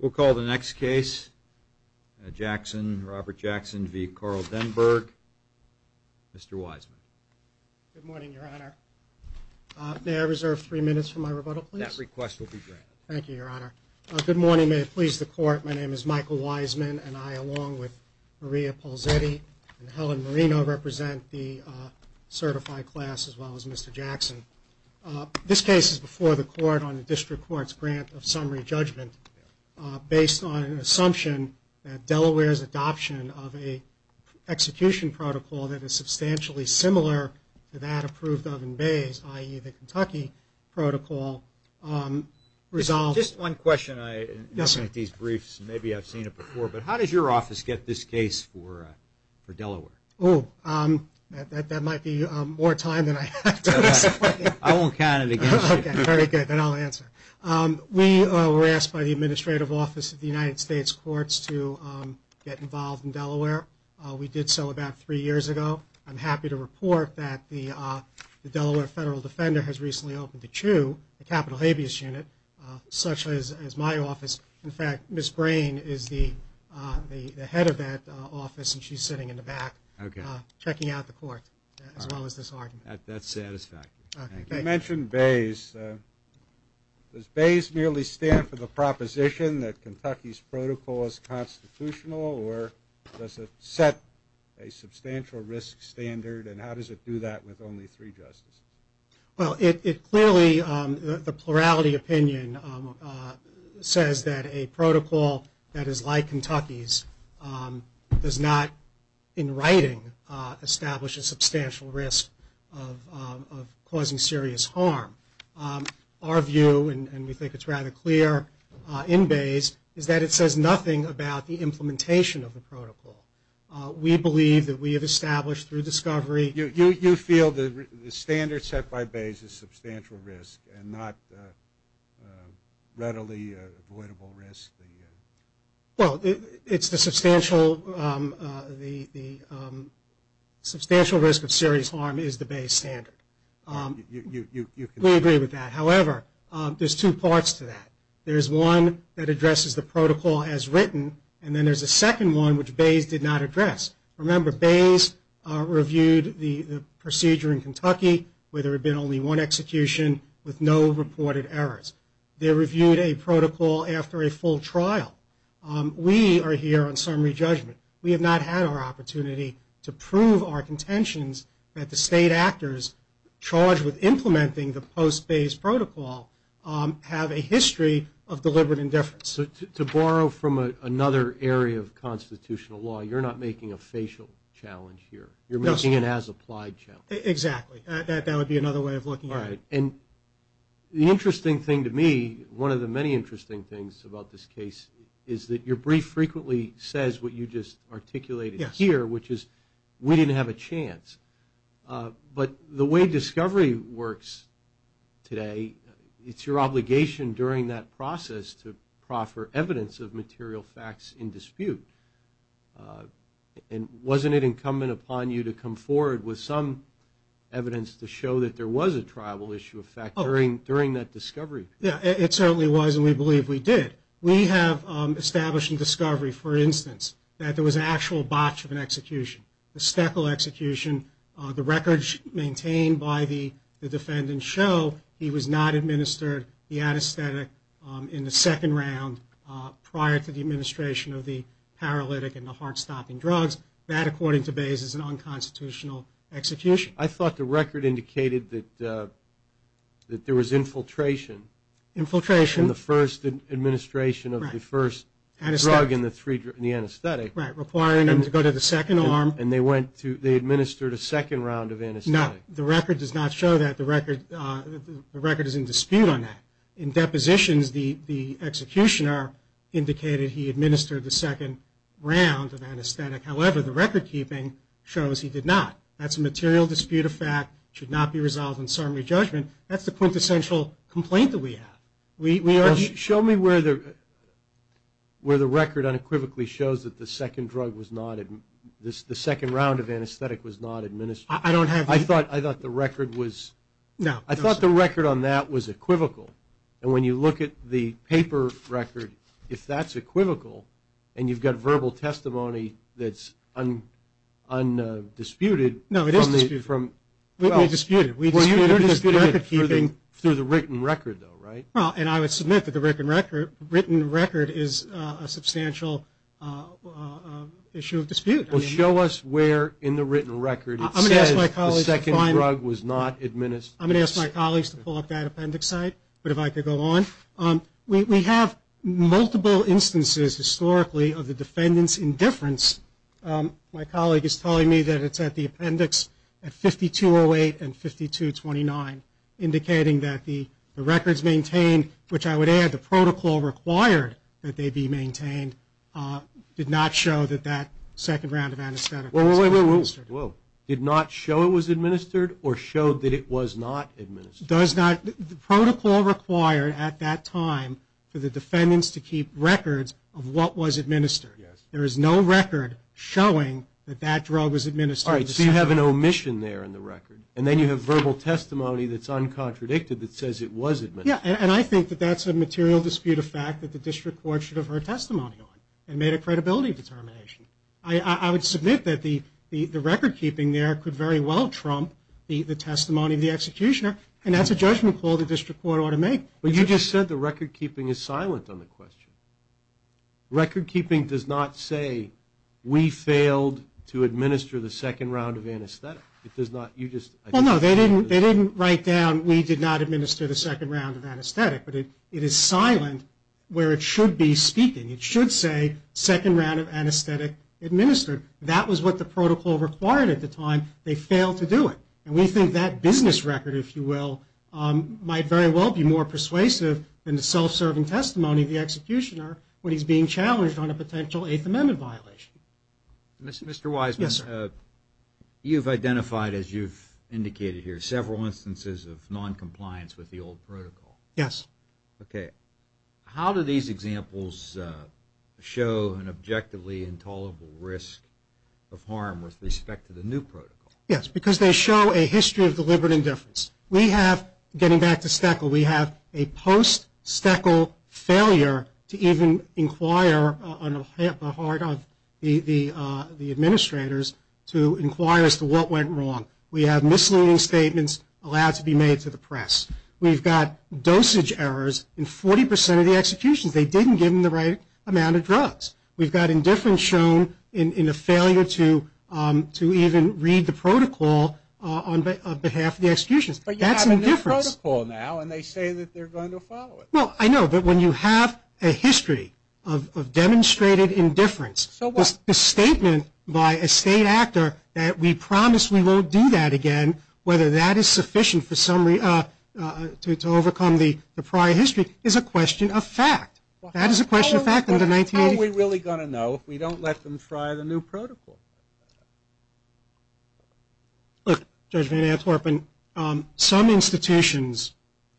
We'll call the next case. Jackson, Robert Jackson v. Carl Denberg. Mr. Wiseman. Good morning, Your Honor. May I reserve three minutes for my rebuttal, please? That request will be granted. Thank you, Your Honor. Good morning. May it please the Court. My name is Michael Wiseman, and I, along with Maria Polsetti and Helen Marino, represent the certified class, as well as Mr. Jackson. This case is before the Court on the District Court's grant of summary judgment, based on an assumption that Delaware's adoption of an execution protocol that is substantially similar to that approved of in Bayes, i.e., the Kentucky Protocol, resolves. Just one question. I look at these briefs, and maybe I've seen it before, but how did your office get this case for Delaware? Oh, that might be more time than I have to explain. I won't count it against you. Okay, very good. Then I'll answer. We were asked by the Administrative Office of the United States Courts to get involved in Delaware. We did so about three years ago. I'm happy to report that the Delaware Federal Defender has recently opened a CHU, the Capital Habeas Unit, such as my office. In fact, Ms. Brain is the head of that office, and she's sitting in the back, checking out the Court, as well as this argument. That's satisfactory. Thank you. You mentioned Bayes. Does Bayes merely stand for the proposition that Kentucky's protocol is constitutional, or does it set a substantial risk standard, and how does it do that with only three justices? Well, it clearly, the plurality opinion says that a protocol that is like Kentucky's does not, in writing, establish a substantial risk of causing serious harm. Our view, and we think it's rather clear in Bayes, is that it says nothing about the implementation of the protocol. We believe that we have established through discovery. You feel the standard set by Bayes is substantial risk and not readily avoidable risk? Well, it's the substantial risk of serious harm is the Bayes standard. We agree with that. However, there's two parts to that. There's one that addresses the protocol as written, and then there's a second one which Bayes did not address. Remember, Bayes reviewed the procedure in Kentucky where there had been only one execution with no reported errors. They reviewed a protocol after a full trial. We are here on summary judgment. We have not had our opportunity to prove our contentions that the state actors charged with implementing the post-Bayes protocol have a history of deliberate indifference. So to borrow from another area of constitutional law, you're not making a facial challenge here. You're making an as-applied challenge. Exactly. That would be another way of looking at it. And the interesting thing to me, one of the many interesting things about this case, is that your brief frequently says what you just articulated here, which is we didn't have a chance. But the way discovery works today, it's your obligation during that process to proffer evidence of material facts in dispute. And wasn't it incumbent upon you to come forward with some evidence to show that there was a tribal issue of fact during that discovery period? Yeah, it certainly was, and we believe we did. We have established in discovery, for instance, that there was an actual botch of an execution, the Steckel execution. The records maintained by the defendant show he was not administered the anesthetic in the second round prior to the administration of the paralytic and the heart-stopping drugs. That, according to Bayes, is an unconstitutional execution. I thought the record indicated that there was infiltration. Infiltration. In the first administration of the first drug in the anesthetic. Right, requiring them to go to the second arm. And they administered a second round of anesthetic. No, the record does not show that. The record is in dispute on that. In depositions, the executioner indicated he administered the second round of anesthetic. However, the record keeping shows he did not. That's a material dispute of fact. It should not be resolved in summary judgment. That's the quintessential complaint that we have. Show me where the record unequivocally shows that the second drug was not administered. The second round of anesthetic was not administered. I don't have the... I thought the record was... No. And when you look at the paper record, if that's equivocal, and you've got verbal testimony that's undisputed... No, it is disputed. We disputed. We disputed it through the written record, though, right? Well, and I would submit that the written record is a substantial issue of dispute. Well, show us where in the written record it says the second drug was not administered. I'm going to ask my colleagues to pull up that appendix site, but if I could go on. We have multiple instances, historically, of the defendant's indifference. My colleague is telling me that it's at the appendix at 5208 and 5229, indicating that the records maintained, which I would add the protocol required that they be maintained, did not show that that second round of anesthetic was administered. Whoa. Did not show it was administered or showed that it was not administered? Does not... The protocol required at that time for the defendants to keep records of what was administered. Yes. There is no record showing that that drug was administered. All right, so you have an omission there in the record, and then you have verbal testimony that's uncontradicted that says it was administered. Yeah, and I think that that's a material dispute of fact that the district court should have heard testimony on and made a credibility determination. I would submit that the record keeping there could very well trump the testimony of the executioner, and that's a judgment call the district court ought to make. But you just said the record keeping is silent on the question. Record keeping does not say we failed to administer the second round of anesthetic. It does not. You just... Well, no, they didn't write down we did not administer the second round of anesthetic, but it is silent where it should be speaking. It should say second round of anesthetic administered. That was what the protocol required at the time. They failed to do it. And we think that business record, if you will, might very well be more persuasive than the self-serving testimony of the executioner when he's being challenged on a potential Eighth Amendment violation. Mr. Wiseman. Yes, sir. You've identified, as you've indicated here, several instances of noncompliance with the old protocol. Yes. Okay. How do these examples show an objectively intolerable risk of harm with respect to the new protocol? Yes, because they show a history of deliberate indifference. We have, getting back to Steckel, we have a post-Steckel failure to even inquire on the part of the administrators to inquire as to what went wrong. We've got dosage errors in 40 percent of the executions. They didn't give them the right amount of drugs. We've got indifference shown in a failure to even read the protocol on behalf of the executions. But you have a new protocol now, and they say that they're going to follow it. Well, I know. But when you have a history of demonstrated indifference, the statement by a state actor that we promise we won't do that again, whether that is sufficient to overcome the prior history is a question of fact. That is a question of fact in the 1980s. How are we really going to know if we don't let them try the new protocol? Look, Judge Van Antwerpen, some institutions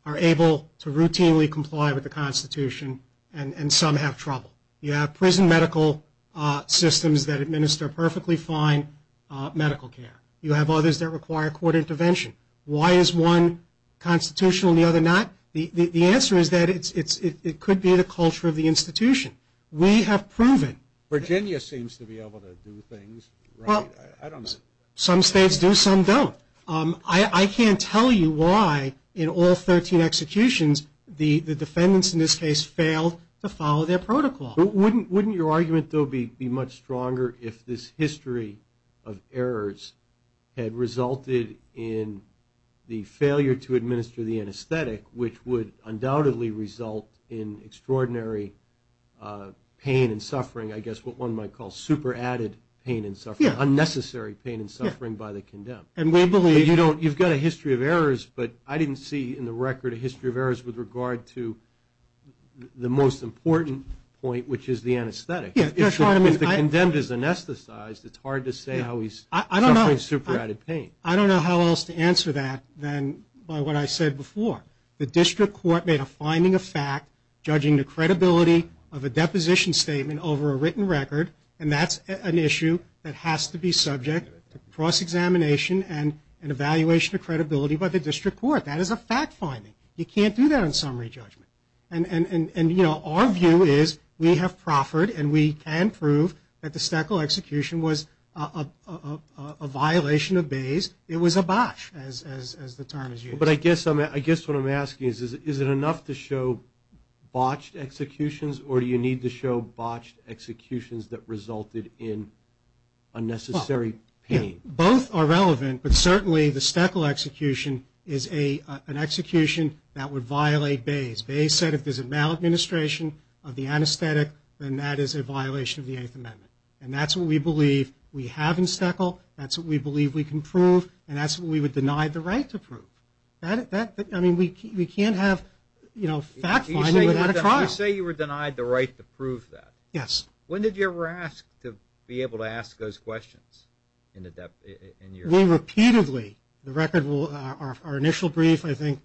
are able to routinely comply with the Constitution, and some have trouble. You have prison medical systems that administer perfectly fine medical care. You have others that require court intervention. Why is one constitutional and the other not? The answer is that it could be the culture of the institution. We have proven. Virginia seems to be able to do things right. I don't know. Some states do, some don't. I can't tell you why in all 13 executions the defendants in this case failed to follow their protocol. Wouldn't your argument, though, be much stronger if this history of errors had resulted in the failure to administer the anesthetic, which would undoubtedly result in extraordinary pain and suffering, I guess what one might call super-added pain and suffering, unnecessary pain and suffering by the condemned? You've got a history of errors, but I didn't see in the record a history of errors with regard to the most important point, which is the anesthetic. If the condemned is anesthetized, it's hard to say how he's suffering super-added pain. I don't know how else to answer that than by what I said before. The district court made a finding of fact, judging the credibility of a deposition statement over a written record, and that's an issue that has to be subject to cross-examination and evaluation of credibility by the district court. That is a fact finding. You can't do that on summary judgment. And, you know, our view is we have proffered and we can prove that the Steckel execution was a violation of Bayes. It was a botch, as the term is used. But I guess what I'm asking is, is it enough to show botched executions, or do you need to show botched executions that resulted in unnecessary pain? Both are relevant, but certainly the Steckel execution is an execution that would violate Bayes. Bayes said if there's a maladministration of the anesthetic, then that is a violation of the Eighth Amendment. And that's what we believe we have in Steckel, that's what we believe we can prove, and that's what we were denied the right to prove. I mean, we can't have, you know, fact finding without a trial. You say you were denied the right to prove that. Yes. When did you ever ask to be able to ask those questions? We repeatedly. The record, our initial brief, I think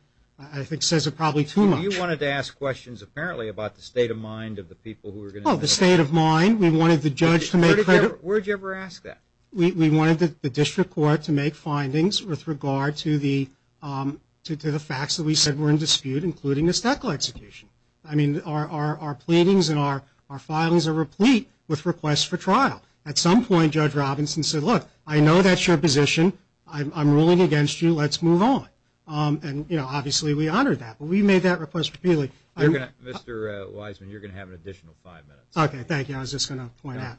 says it probably too much. You wanted to ask questions apparently about the state of mind of the people who were going to do it. Oh, the state of mind. We wanted the judge to make credit. Where did you ever ask that? We wanted the district court to make findings with regard to the facts that we said were in dispute, including the Steckel execution. I mean, our pleadings and our filings are replete with requests for trial. At some point, Judge Robinson said, look, I know that's your position. I'm ruling against you. Let's move on. And, you know, obviously we honored that. But we made that request repeatedly. Mr. Wiseman, you're going to have an additional five minutes. Okay, thank you. I was just going to point out.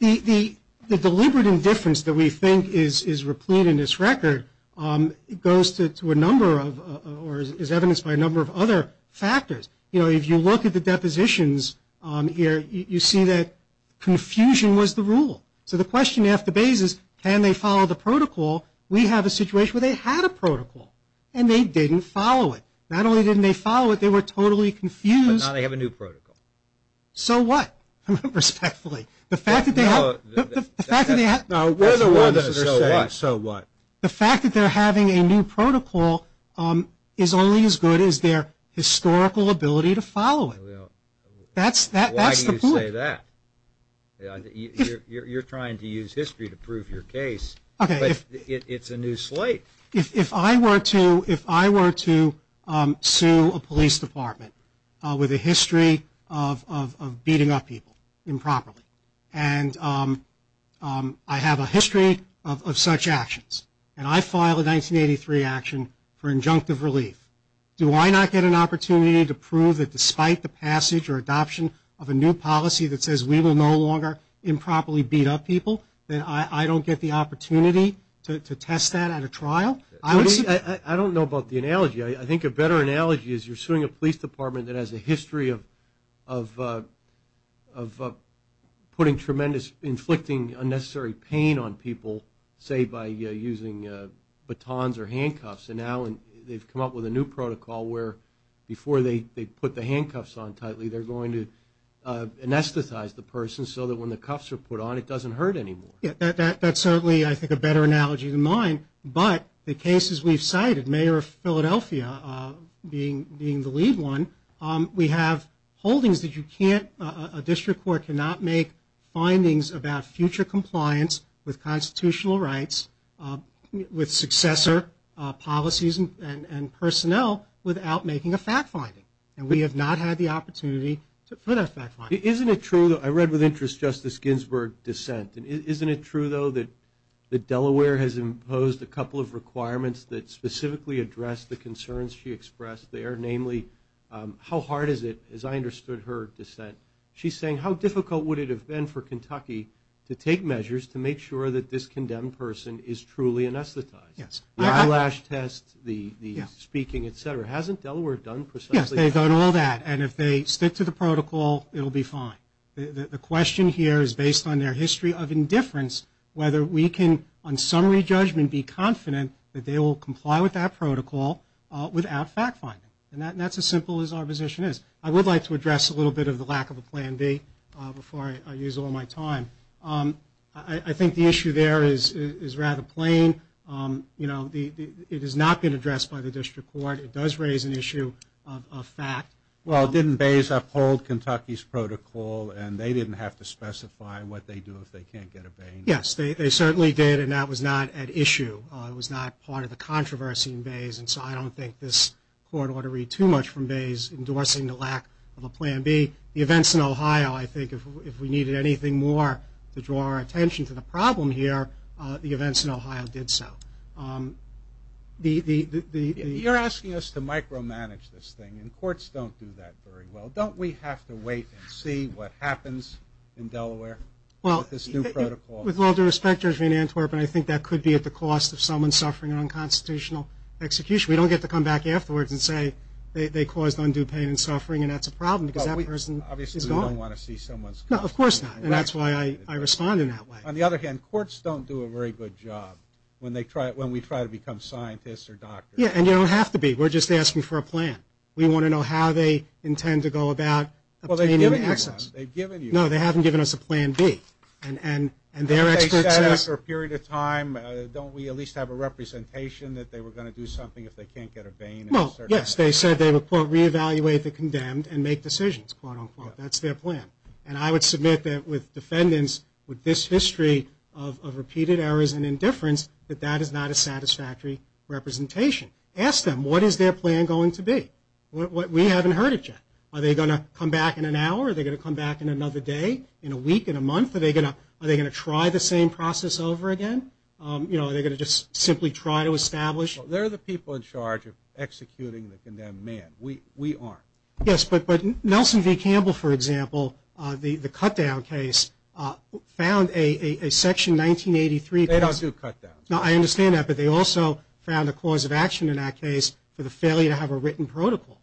The deliberate indifference that we think is replete in this record goes to a number of or is evidenced by a number of other factors. You know, if you look at the depositions here, you see that confusion was the rule. So the question after Bayes is, can they follow the protocol? We have a situation where they had a protocol, and they didn't follow it. Not only didn't they follow it, they were totally confused. But now they have a new protocol. So what? Respectfully. The fact that they have. So what? The fact that they're having a new protocol is only as good as their historical ability to follow it. Why do you say that? You're trying to use history to prove your case. Okay. But it's a new slate. If I were to sue a police department with a history of beating up people improperly, and I have a history of such actions, and I file a 1983 action for injunctive relief, do I not get an opportunity to prove that despite the passage or adoption of a new policy that says we will no longer improperly beat up people, that I don't get the opportunity to test that at a trial? I don't know about the analogy. I think a better analogy is you're suing a police department that has a history of putting tremendous, inflicting unnecessary pain on people, say, by using batons or handcuffs. And now they've come up with a new protocol where before they put the handcuffs on tightly, they're going to anesthetize the person so that when the cuffs are put on it doesn't hurt anymore. That's certainly, I think, a better analogy than mine. But the cases we've cited, Mayor of Philadelphia being the lead one, we have holdings that a district court cannot make findings about future compliance with constitutional rights, with successor policies and personnel without making a fact finding. And we have not had the opportunity to put a fact finding. Isn't it true, though? I read with interest Justice Ginsburg dissent. Isn't it true, though, that Delaware has imposed a couple of requirements that specifically address the concerns she expressed there? Namely, how hard is it, as I understood her dissent, she's saying, how difficult would it have been for Kentucky to take measures to make sure that this condemned person is truly anesthetized? The eyelash test, the speaking, et cetera. Hasn't Delaware done precisely that? Yes, they've done all that. And if they stick to the protocol, it will be fine. The question here is based on their history of indifference, whether we can, on summary judgment, be confident that they will comply with that protocol without fact finding. And that's as simple as our position is. I would like to address a little bit of the lack of a plan B before I use all my time. I think the issue there is rather plain. You know, it has not been addressed by the district court. It does raise an issue of fact. Well, didn't Bays uphold Kentucky's protocol, and they didn't have to specify what they do if they can't get a Bain? Yes, they certainly did, and that was not at issue. It was not part of the controversy in Bays, and so I don't think this court ought to read too much from Bays endorsing the lack of a plan B. The events in Ohio, I think, if we needed anything more to draw our attention to the problem here, the events in Ohio did so. You're asking us to micromanage this thing, and courts don't do that very well. Don't we have to wait and see what happens in Delaware with this new protocol? Well, with all due respect, Judge Van Antwerp, I think that could be at the cost of someone suffering an unconstitutional execution. We don't get to come back afterwards and say they caused undue pain and suffering, and that's a problem because that person is gone. Obviously, we don't want to see someone's constitution wrecked. No, of course not, and that's why I respond in that way. On the other hand, courts don't do a very good job when we try to become scientists or doctors. Yeah, and you don't have to be. We're just asking for a plan. We want to know how they intend to go about obtaining access. Well, they've given you one. They've given you one. No, they haven't given us a plan B, and they're experts. Haven't they said after a period of time, don't we at least have a representation that they were going to do something if they can't get a vein? Well, yes, they said they would, quote, re-evaluate the condemned and make decisions, quote, unquote. That's their plan, and I would submit that with defendants with this history of repeated errors and indifference, that that is not a satisfactory representation. Ask them, what is their plan going to be? We haven't heard it yet. Are they going to come back in an hour? Are they going to come back in another day, in a week, in a month? Are they going to try the same process over again? You know, are they going to just simply try to establish? They're the people in charge of executing the condemned man. We aren't. Yes, but Nelson v. Campbell, for example, the cut-down case, found a Section 1983. They don't do cut-downs. No, I understand that, but they also found a cause of action in that case for the failure to have a written protocol.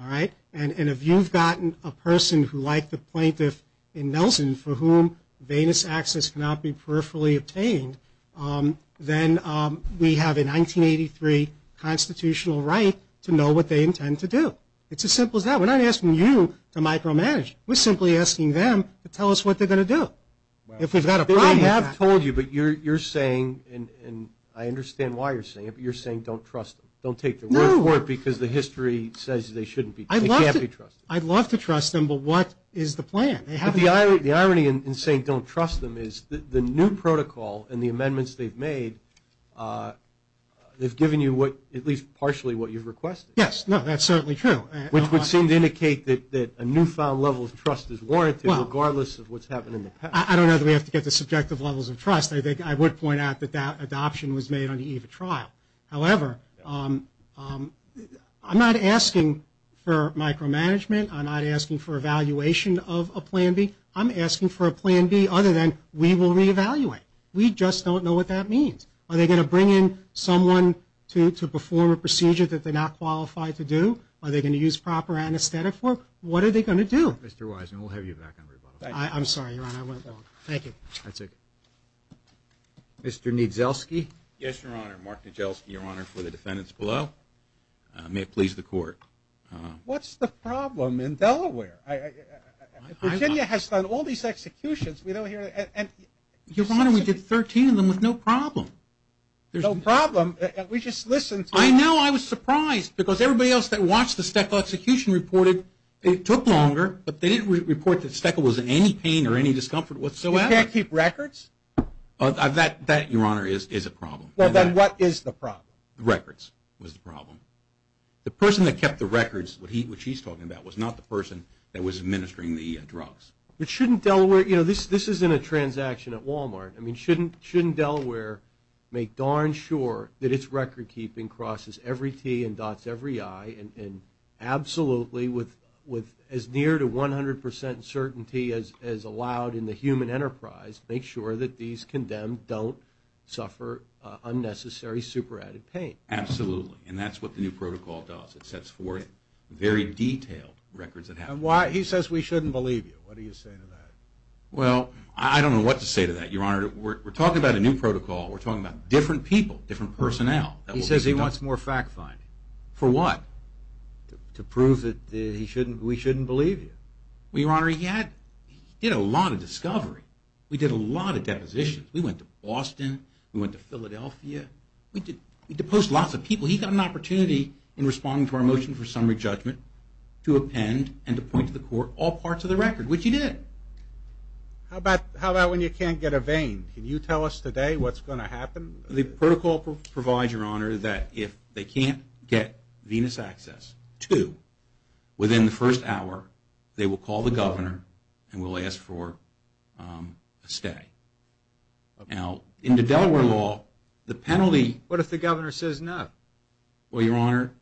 All right? And if you've gotten a person who, like the plaintiff in Nelson, for whom venous access cannot be peripherally obtained, then we have a 1983 constitutional right to know what they intend to do. It's as simple as that. We're not asking you to micromanage. We're simply asking them to tell us what they're going to do. If we've got a problem. They have told you, but you're saying, and I understand why you're saying it, but you're saying don't trust them. Don't take their word for it because the history says they shouldn't be. They can't be trusted. I'd love to trust them, but what is the plan? The irony in saying don't trust them is the new protocol and the amendments they've made, they've given you at least partially what you've requested. Yes. No, that's certainly true. Which would seem to indicate that a newfound level of trust is warranted, regardless of what's happened in the past. I don't know that we have to get to subjective levels of trust. I would point out that that adoption was made on the eve of trial. However, I'm not asking for micromanagement. I'm not asking for evaluation of a Plan B. I'm asking for a Plan B other than we will reevaluate. We just don't know what that means. Are they going to bring in someone to perform a procedure that they're not qualified to do? Are they going to use proper anesthetic work? What are they going to do? Mr. Wiseman, we'll have you back on rebuttal. I'm sorry, Your Honor, I went long. Thank you. That's okay. Mr. Niedzielski? Yes, Your Honor. Mark Niedzielski, Your Honor, for the defendants below. May it please the Court. What's the problem in Delaware? Virginia has done all these executions. Your Honor, we did 13 of them with no problem. No problem? We just listened. I know. I was surprised because everybody else that watched the Steckel execution reported it took longer, but they didn't report that Steckel was in any pain or any discomfort whatsoever. You can't keep records? That, Your Honor, is a problem. Well, then what is the problem? Records was the problem. The person that kept the records, which he's talking about, was not the person that was administering the drugs. But shouldn't Delaware, you know, this isn't a transaction at Walmart. I mean, shouldn't Delaware make darn sure that its record-keeping crosses every T and dots every I and absolutely with as near to 100 percent certainty as allowed in the human enterprise make sure that these condemned don't suffer unnecessary, super-added pain? Absolutely, and that's what the new protocol does. It sets forth very detailed records that happen. He says we shouldn't believe you. What do you say to that? Well, I don't know what to say to that, Your Honor. We're talking about a new protocol. We're talking about different people, different personnel. He says he wants more fact-finding. For what? To prove that we shouldn't believe you. Well, Your Honor, he did a lot of discovery. We did a lot of depositions. We went to Boston. We went to Philadelphia. We deposed lots of people. He got an opportunity in responding to our motion for summary judgment to append and to point to the court all parts of the record, which he did. How about when you can't get a vein? Can you tell us today what's going to happen? The protocol provides, Your Honor, that if they can't get venous access to within the first hour, they will call the governor and will ask for a stay. Now, in the Delaware law, the penalty... What if the governor says no? Well, Your Honor,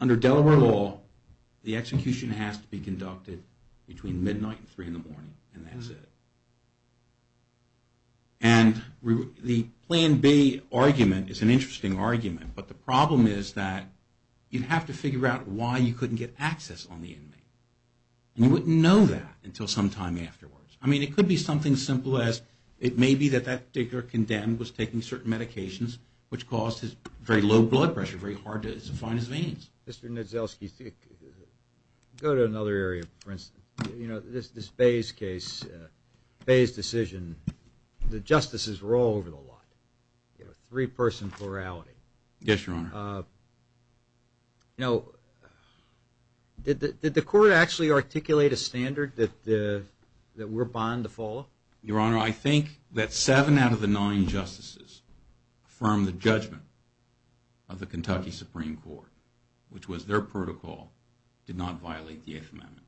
under Delaware law, the execution has to be conducted between midnight and 3 in the morning, and that's it. And the Plan B argument is an interesting argument, but the problem is that you'd have to figure out why you couldn't get access on the inmate. And you wouldn't know that until some time afterwards. I mean, it could be something as simple as it may be that that particular condemned was taking certain medications which caused his very low blood pressure, very hard to find his veins. Mr. Niedzielski, go to another area, for instance. You know, this Bays case, Bays' decision, the justices were all over the lot, you know, three-person plurality. Yes, Your Honor. Now, did the court actually articulate a standard that we're bound to follow? Your Honor, I think that seven out of the nine justices affirmed the judgment of the Kentucky Supreme Court, which was their protocol, did not violate the Eighth Amendment.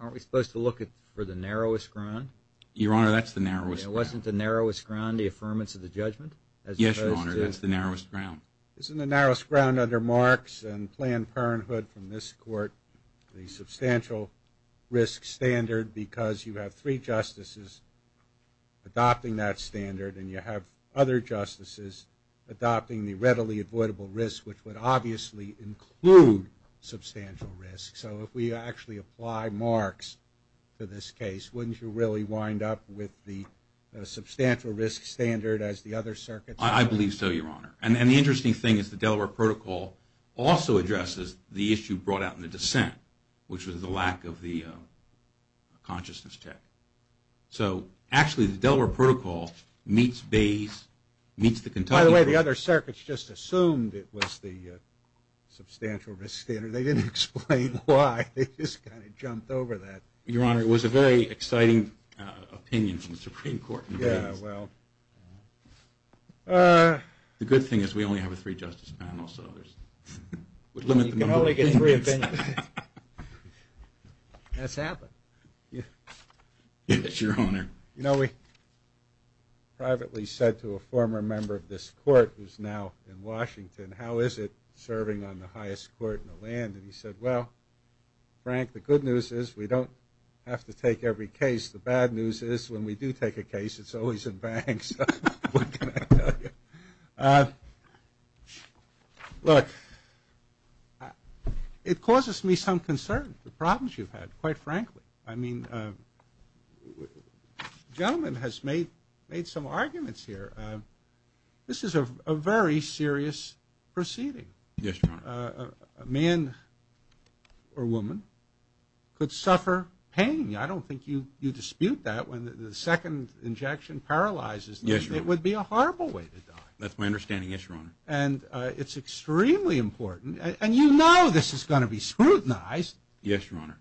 Aren't we supposed to look for the narrowest ground? Your Honor, that's the narrowest ground. Wasn't the narrowest ground the affirmance of the judgment? Yes, Your Honor, that's the narrowest ground. Isn't the narrowest ground under Marx and Planned Parenthood from this court the substantial risk standard because you have three justices adopting that standard and you have other justices adopting the readily avoidable risk, which would obviously include substantial risk? So if we actually apply Marx to this case, wouldn't you really wind up with the substantial risk standard as the other circuits do? I believe so, Your Honor. And the interesting thing is the Delaware Protocol also addresses the issue brought out in the dissent, which was the lack of the consciousness check. So actually the Delaware Protocol meets the Kentucky Protocol. By the way, the other circuits just assumed it was the substantial risk standard. They didn't explain why. They just kind of jumped over that. Your Honor, it was a very exciting opinion from the Supreme Court. Yeah, well. The good thing is we only have a three-justice panel. You can only get three opinions. That's happened. Yes, Your Honor. You know, we privately said to a former member of this court who's now in Washington, how is it serving on the highest court in the land? And he said, well, Frank, the good news is we don't have to take every case. The bad news is when we do take a case, it's always in banks. What can I tell you? Look, it causes me some concern, the problems you've had, quite frankly. I mean, the gentleman has made some arguments here. This is a very serious proceeding. Yes, Your Honor. A man or woman could suffer pain. I don't think you dispute that. When the second injection paralyzes them, it would be a horrible way to die. That's my understanding, yes, Your Honor. And it's extremely important. And you know this is going to be scrutinized. Yes, Your Honor.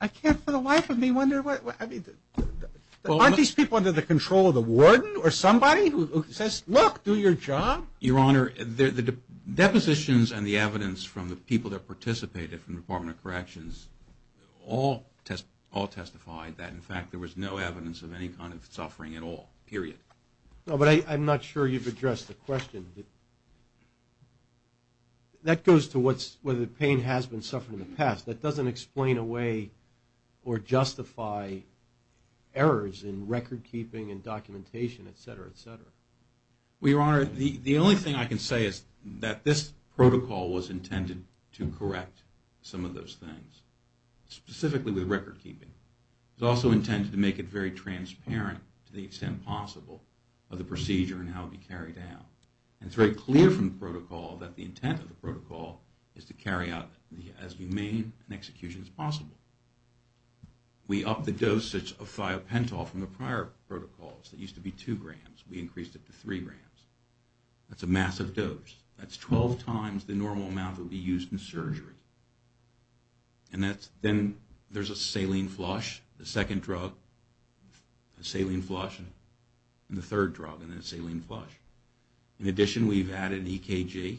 I can't for the life of me wonder. Aren't these people under the control of the warden or somebody who says, look, do your job? Your Honor, the depositions and the evidence from the people that participated from the Department of Corrections all testified that, in fact, there was no evidence of any kind of suffering at all, period. No, but I'm not sure you've addressed the question. That goes to whether the pain has been suffered in the past. That doesn't explain away or justify errors in record-keeping and documentation, et cetera, et cetera. Well, Your Honor, the only thing I can say is that this protocol was intended to correct some of those things, specifically with record-keeping. It was also intended to make it very transparent to the extent possible of the procedure and how it would be carried out. And it's very clear from the protocol that the intent of the protocol is to carry out as humane an execution as possible. We upped the dosage of thiopentol from the prior protocols that used to be 2 grams. We increased it to 3 grams. That's a massive dose. That's 12 times the normal amount that would be used in surgery. And then there's a saline flush, the second drug, a saline flush, and the third drug, and then a saline flush. In addition, we've added EKG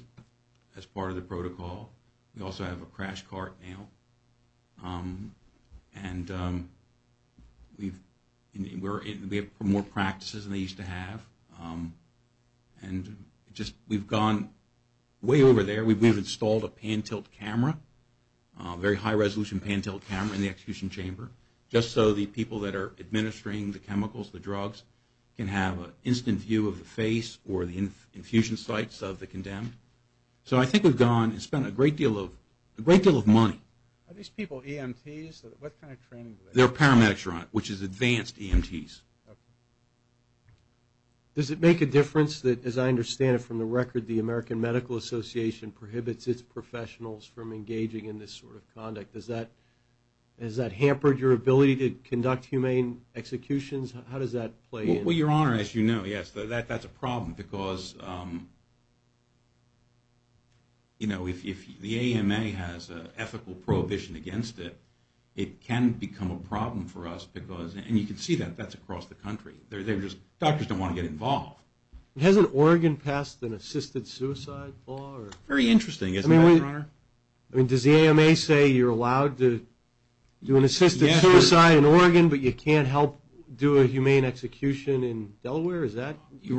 as part of the protocol. We also have a crash cart now. And we have more practices than they used to have. And we've gone way over there. We've installed a pan-tilt camera, a very high-resolution pan-tilt camera in the execution chamber, just so the people that are administering the chemicals, the drugs, can have an instant view of the face or the infusion sites of the condemned. So I think we've gone and spent a great deal of money. Are these people EMTs? What kind of training do they have? They're paramedics, which is advanced EMTs. Does it make a difference that, as I understand it from the record, the American Medical Association prohibits its professionals from engaging in this sort of conduct? Has that hampered your ability to conduct humane executions? How does that play in? Well, Your Honor, as you know, yes, that's a problem. Because, you know, if the AMA has an ethical prohibition against it, it can become a problem for us because, and you can see that, that's across the country. Doctors don't want to get involved. Hasn't Oregon passed an assisted suicide law? Very interesting, isn't it, Your Honor? I mean, does the AMA say you're allowed to do an assisted suicide in Oregon but you can't help do a humane execution in Delaware? Is that where we are?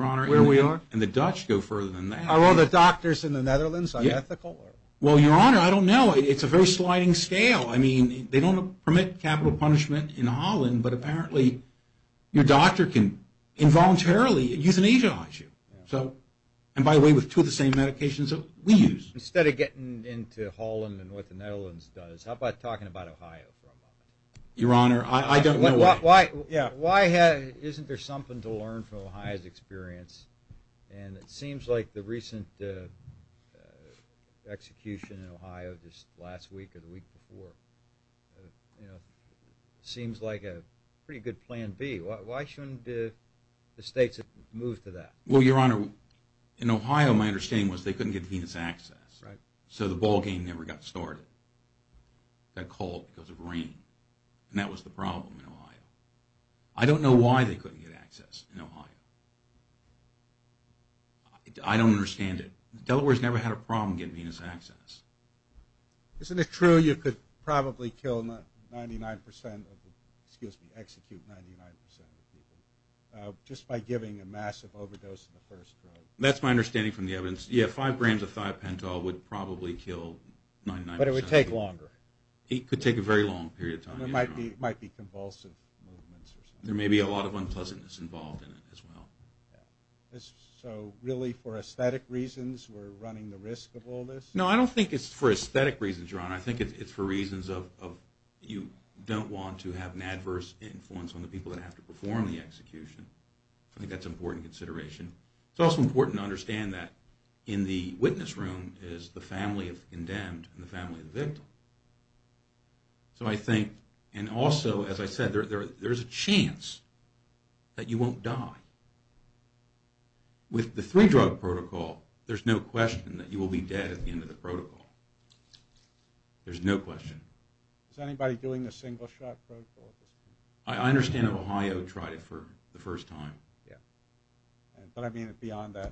Your Honor, and the Dutch go further than that. Are all the doctors in the Netherlands unethical? Well, Your Honor, I don't know. It's a very sliding scale. I mean, they don't permit capital punishment in Holland, but apparently your doctor can involuntarily euthanize you. And, by the way, with two of the same medications that we use. Instead of getting into Holland and what the Netherlands does, how about talking about Ohio for a moment? Your Honor, I don't know why. Why isn't there something to learn from Ohio's experience? And it seems like the recent execution in Ohio just last week or the week before seems like a pretty good plan B. Why shouldn't the states move to that? Well, Your Honor, in Ohio my understanding was they couldn't get venous access. So the ball game never got started. It got called because of rain. And that was the problem in Ohio. I don't know why they couldn't get access in Ohio. I don't understand it. Delaware's never had a problem getting venous access. Isn't it true you could probably kill 99% of the people, excuse me, execute 99% of the people, just by giving a massive overdose in the first drug? That's my understanding from the evidence. Yeah, five grams of thiopental would probably kill 99%. But it would take longer. It could take a very long period of time. It might be convulsive movements. There may be a lot of unpleasantness involved in it as well. So really for aesthetic reasons we're running the risk of all this? No, I don't think it's for aesthetic reasons, Your Honor. I think it's for reasons of you don't want to have an adverse influence on the people that have to perform the execution. I think that's an important consideration. It's also important to understand that in the witness room is the family of the condemned and the family of the victim. So I think, and also, as I said, there's a chance that you won't die. With the three-drug protocol, there's no question that you will be dead at the end of the protocol. There's no question. Is anybody doing the single-shot protocol at this point? I understand Ohio tried it for the first time. But, I mean, beyond that,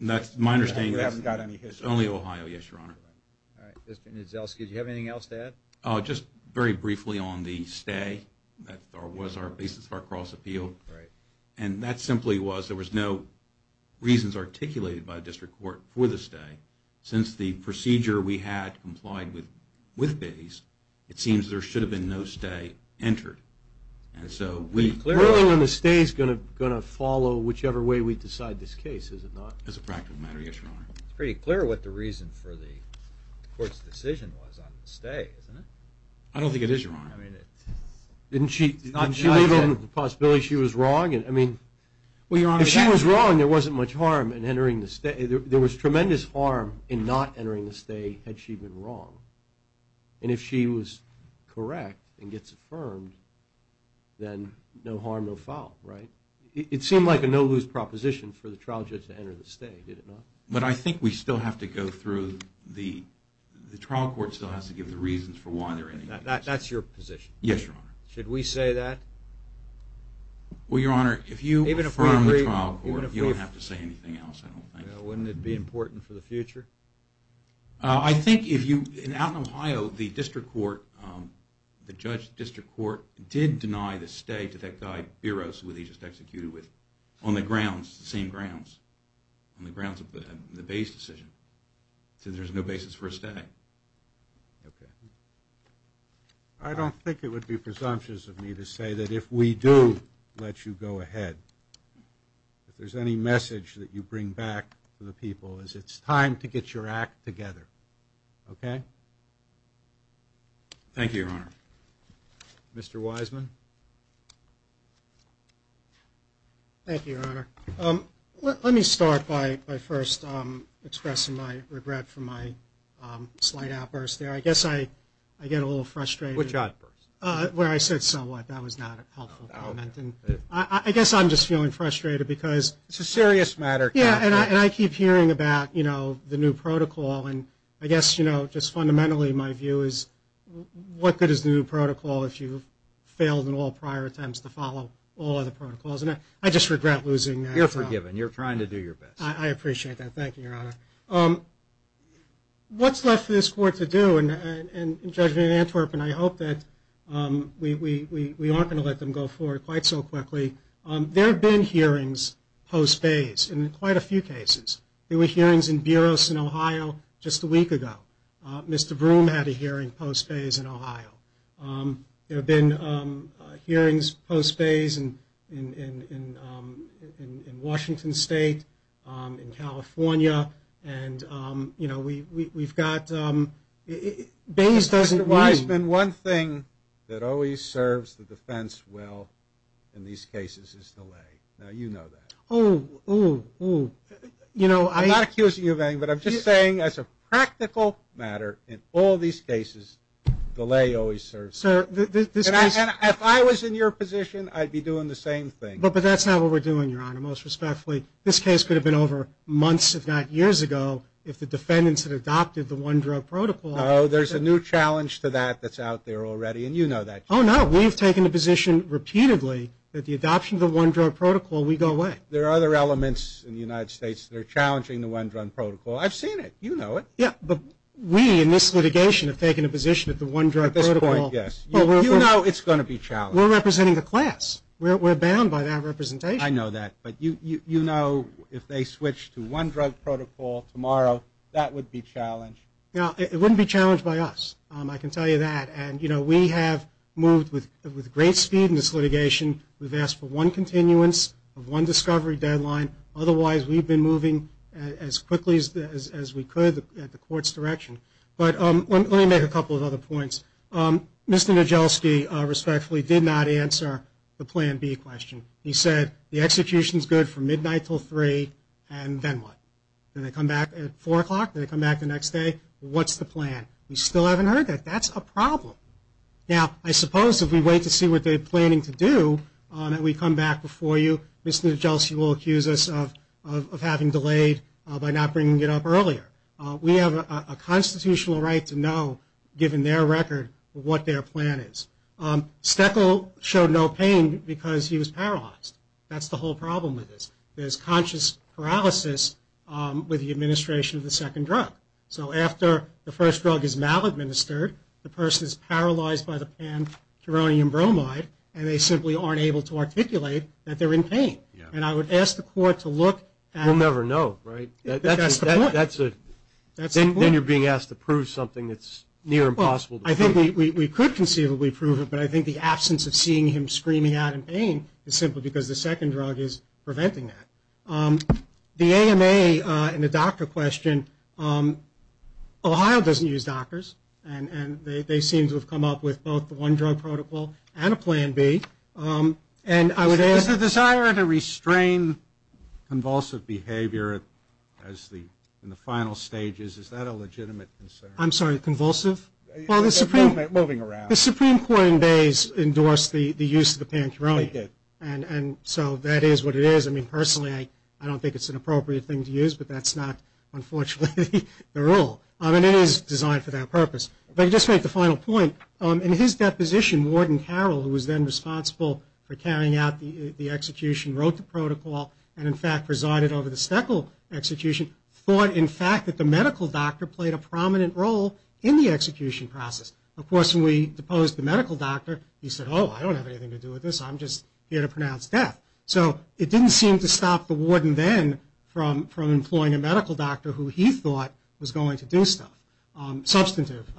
we haven't got any history. It's only Ohio, yes, Your Honor. All right. Mr. Niedzelski, did you have anything else to add? Just very briefly on the stay. That was our basis for our cross-appeal. And that simply was there was no reasons articulated by the district court for the stay. Since the procedure we had complied with with Bayes, it seems there should have been no stay entered. And so we clearly want to stay is going to follow whichever way we decide this case, is it not? As a practical matter, yes, Your Honor. It's pretty clear what the reason for the court's decision was on the stay, isn't it? I don't think it is, Your Honor. Didn't she leave on the possibility she was wrong? I mean, if she was wrong, there wasn't much harm in entering the stay. There was tremendous harm in not entering the stay had she been wrong. And if she was correct and gets affirmed, then no harm, no foul, right? It seemed like a no-lose proposition for the trial judge to enter the stay, did it not? But I think we still have to go through the trial court still has to give the reasons for why they're entering the stay. That's your position? Yes, Your Honor. Should we say that? Well, Your Honor, if you affirm the trial court, you don't have to say anything else, I don't think. Wouldn't it be important for the future? I think if you, in Atlanta, Ohio, the district court, the judge district court, did deny the stay to that guy Beros, who he just executed with, on the grounds, the same grounds, on the grounds of the base decision. So there's no basis for a stay. Okay. I don't think it would be presumptuous of me to say that if we do let you go ahead, if there's any message that you bring back to the people is it's time to get your act together, okay? Thank you, Your Honor. Mr. Wiseman. Thank you, Your Honor. Let me start by first expressing my regret for my slight outburst there. I guess I get a little frustrated. Which outburst? Where I said somewhat, that was not a helpful comment. And I guess I'm just feeling frustrated because. It's a serious matter. Yeah, and I keep hearing about, you know, the new protocol. And I guess, you know, just fundamentally my view is, what good is the new protocol if you failed in all prior attempts to follow all other protocols? And I just regret losing that. You're forgiven. You're trying to do your best. I appreciate that. Thank you, Your Honor. What's left for this court to do? And Judge Van Antwerp and I hope that we aren't going to let them go forward quite so quickly. There have been hearings post-base in quite a few cases. There were hearings in Buros in Ohio just a week ago. Mr. Broom had a hearing post-base in Ohio. There have been hearings post-base in Washington State, in California. And, you know, we've got – Bays doesn't – Mr. Weisman, one thing that always serves the defense well in these cases is delay. Now, you know that. Oh, oh, oh. You know, I'm not accusing you of anything, but I'm just saying as a practical matter, in all these cases delay always serves. Sir, this case – And if I was in your position, I'd be doing the same thing. But that's not what we're doing, Your Honor, most respectfully. This case could have been over months, if not years ago, if the defendants had adopted the one-drug protocol. No, there's a new challenge to that that's out there already, and you know that. Oh, no. We've taken a position repeatedly that the adoption of the one-drug protocol, we go away. There are other elements in the United States that are challenging the one-drug protocol. I've seen it. You know it. Yeah, but we in this litigation have taken a position that the one-drug protocol – At this point, yes. You know it's going to be challenged. We're representing the class. We're bound by that representation. I know that. But you know if they switch to one-drug protocol tomorrow, that would be challenged. No, it wouldn't be challenged by us. I can tell you that. And, you know, we have moved with great speed in this litigation. We've asked for one continuance of one discovery deadline. Otherwise, we've been moving as quickly as we could at the court's direction. But let me make a couple of other points. Mr. Nijelski, respectfully, did not answer the Plan B question. He said the execution is good from midnight until 3, and then what? Do they come back at 4 o'clock? Do they come back the next day? What's the plan? We still haven't heard that. That's a problem. Now, I suppose if we wait to see what they're planning to do and we come back before you, Mr. Nijelski will accuse us of having delayed by not bringing it up earlier. We have a constitutional right to know, given their record, what their plan is. Steckel showed no pain because he was paralyzed. That's the whole problem with this. There's conscious paralysis with the administration of the second drug. So after the first drug is mal-administered, the person is paralyzed by the pan-uranium bromide, and they simply aren't able to articulate that they're in pain. And I would ask the court to look at it. We'll never know, right? That's the point. Then you're being asked to prove something that's near impossible to prove. I think we could conceivably prove it, but I think the absence of seeing him screaming out in pain is simply because the second drug is preventing that. The AMA and the doctor question, Ohio doesn't use doctors, and they seem to have come up with both the one-drug protocol and a plan B. Is the desire to restrain convulsive behavior in the final stages, is that a legitimate concern? I'm sorry, convulsive? Moving around. The Supreme Court in days endorsed the use of the pan-uranium. They did. And so that is what it is. I mean, personally, I don't think it's an appropriate thing to use, but that's not, unfortunately, the rule. I mean, it is designed for that purpose. If I could just make the final point, in his deposition, Warden Carroll, who was then responsible for carrying out the execution, wrote the protocol and, in fact, presided over the Steckel execution, thought, in fact, that the medical doctor played a prominent role in the execution process. Of course, when we deposed the medical doctor, he said, oh, I don't have anything to do with this. I'm just here to pronounce death. So it didn't seem to stop the warden then from employing a medical doctor who he thought was going to do stuff, substantive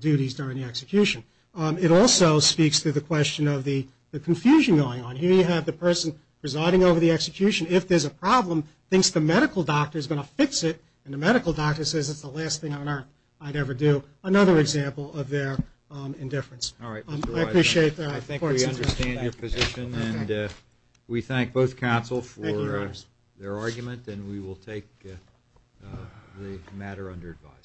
duties during the execution. It also speaks to the question of the confusion going on. Here you have the person presiding over the execution. If there's a problem, thinks the medical doctor is going to fix it, and the medical doctor says it's the last thing on earth I'd ever do. Another example of their indifference. All right. I appreciate that. I think we understand your position, and we thank both counsel for their argument, and we will take the matter under advisement.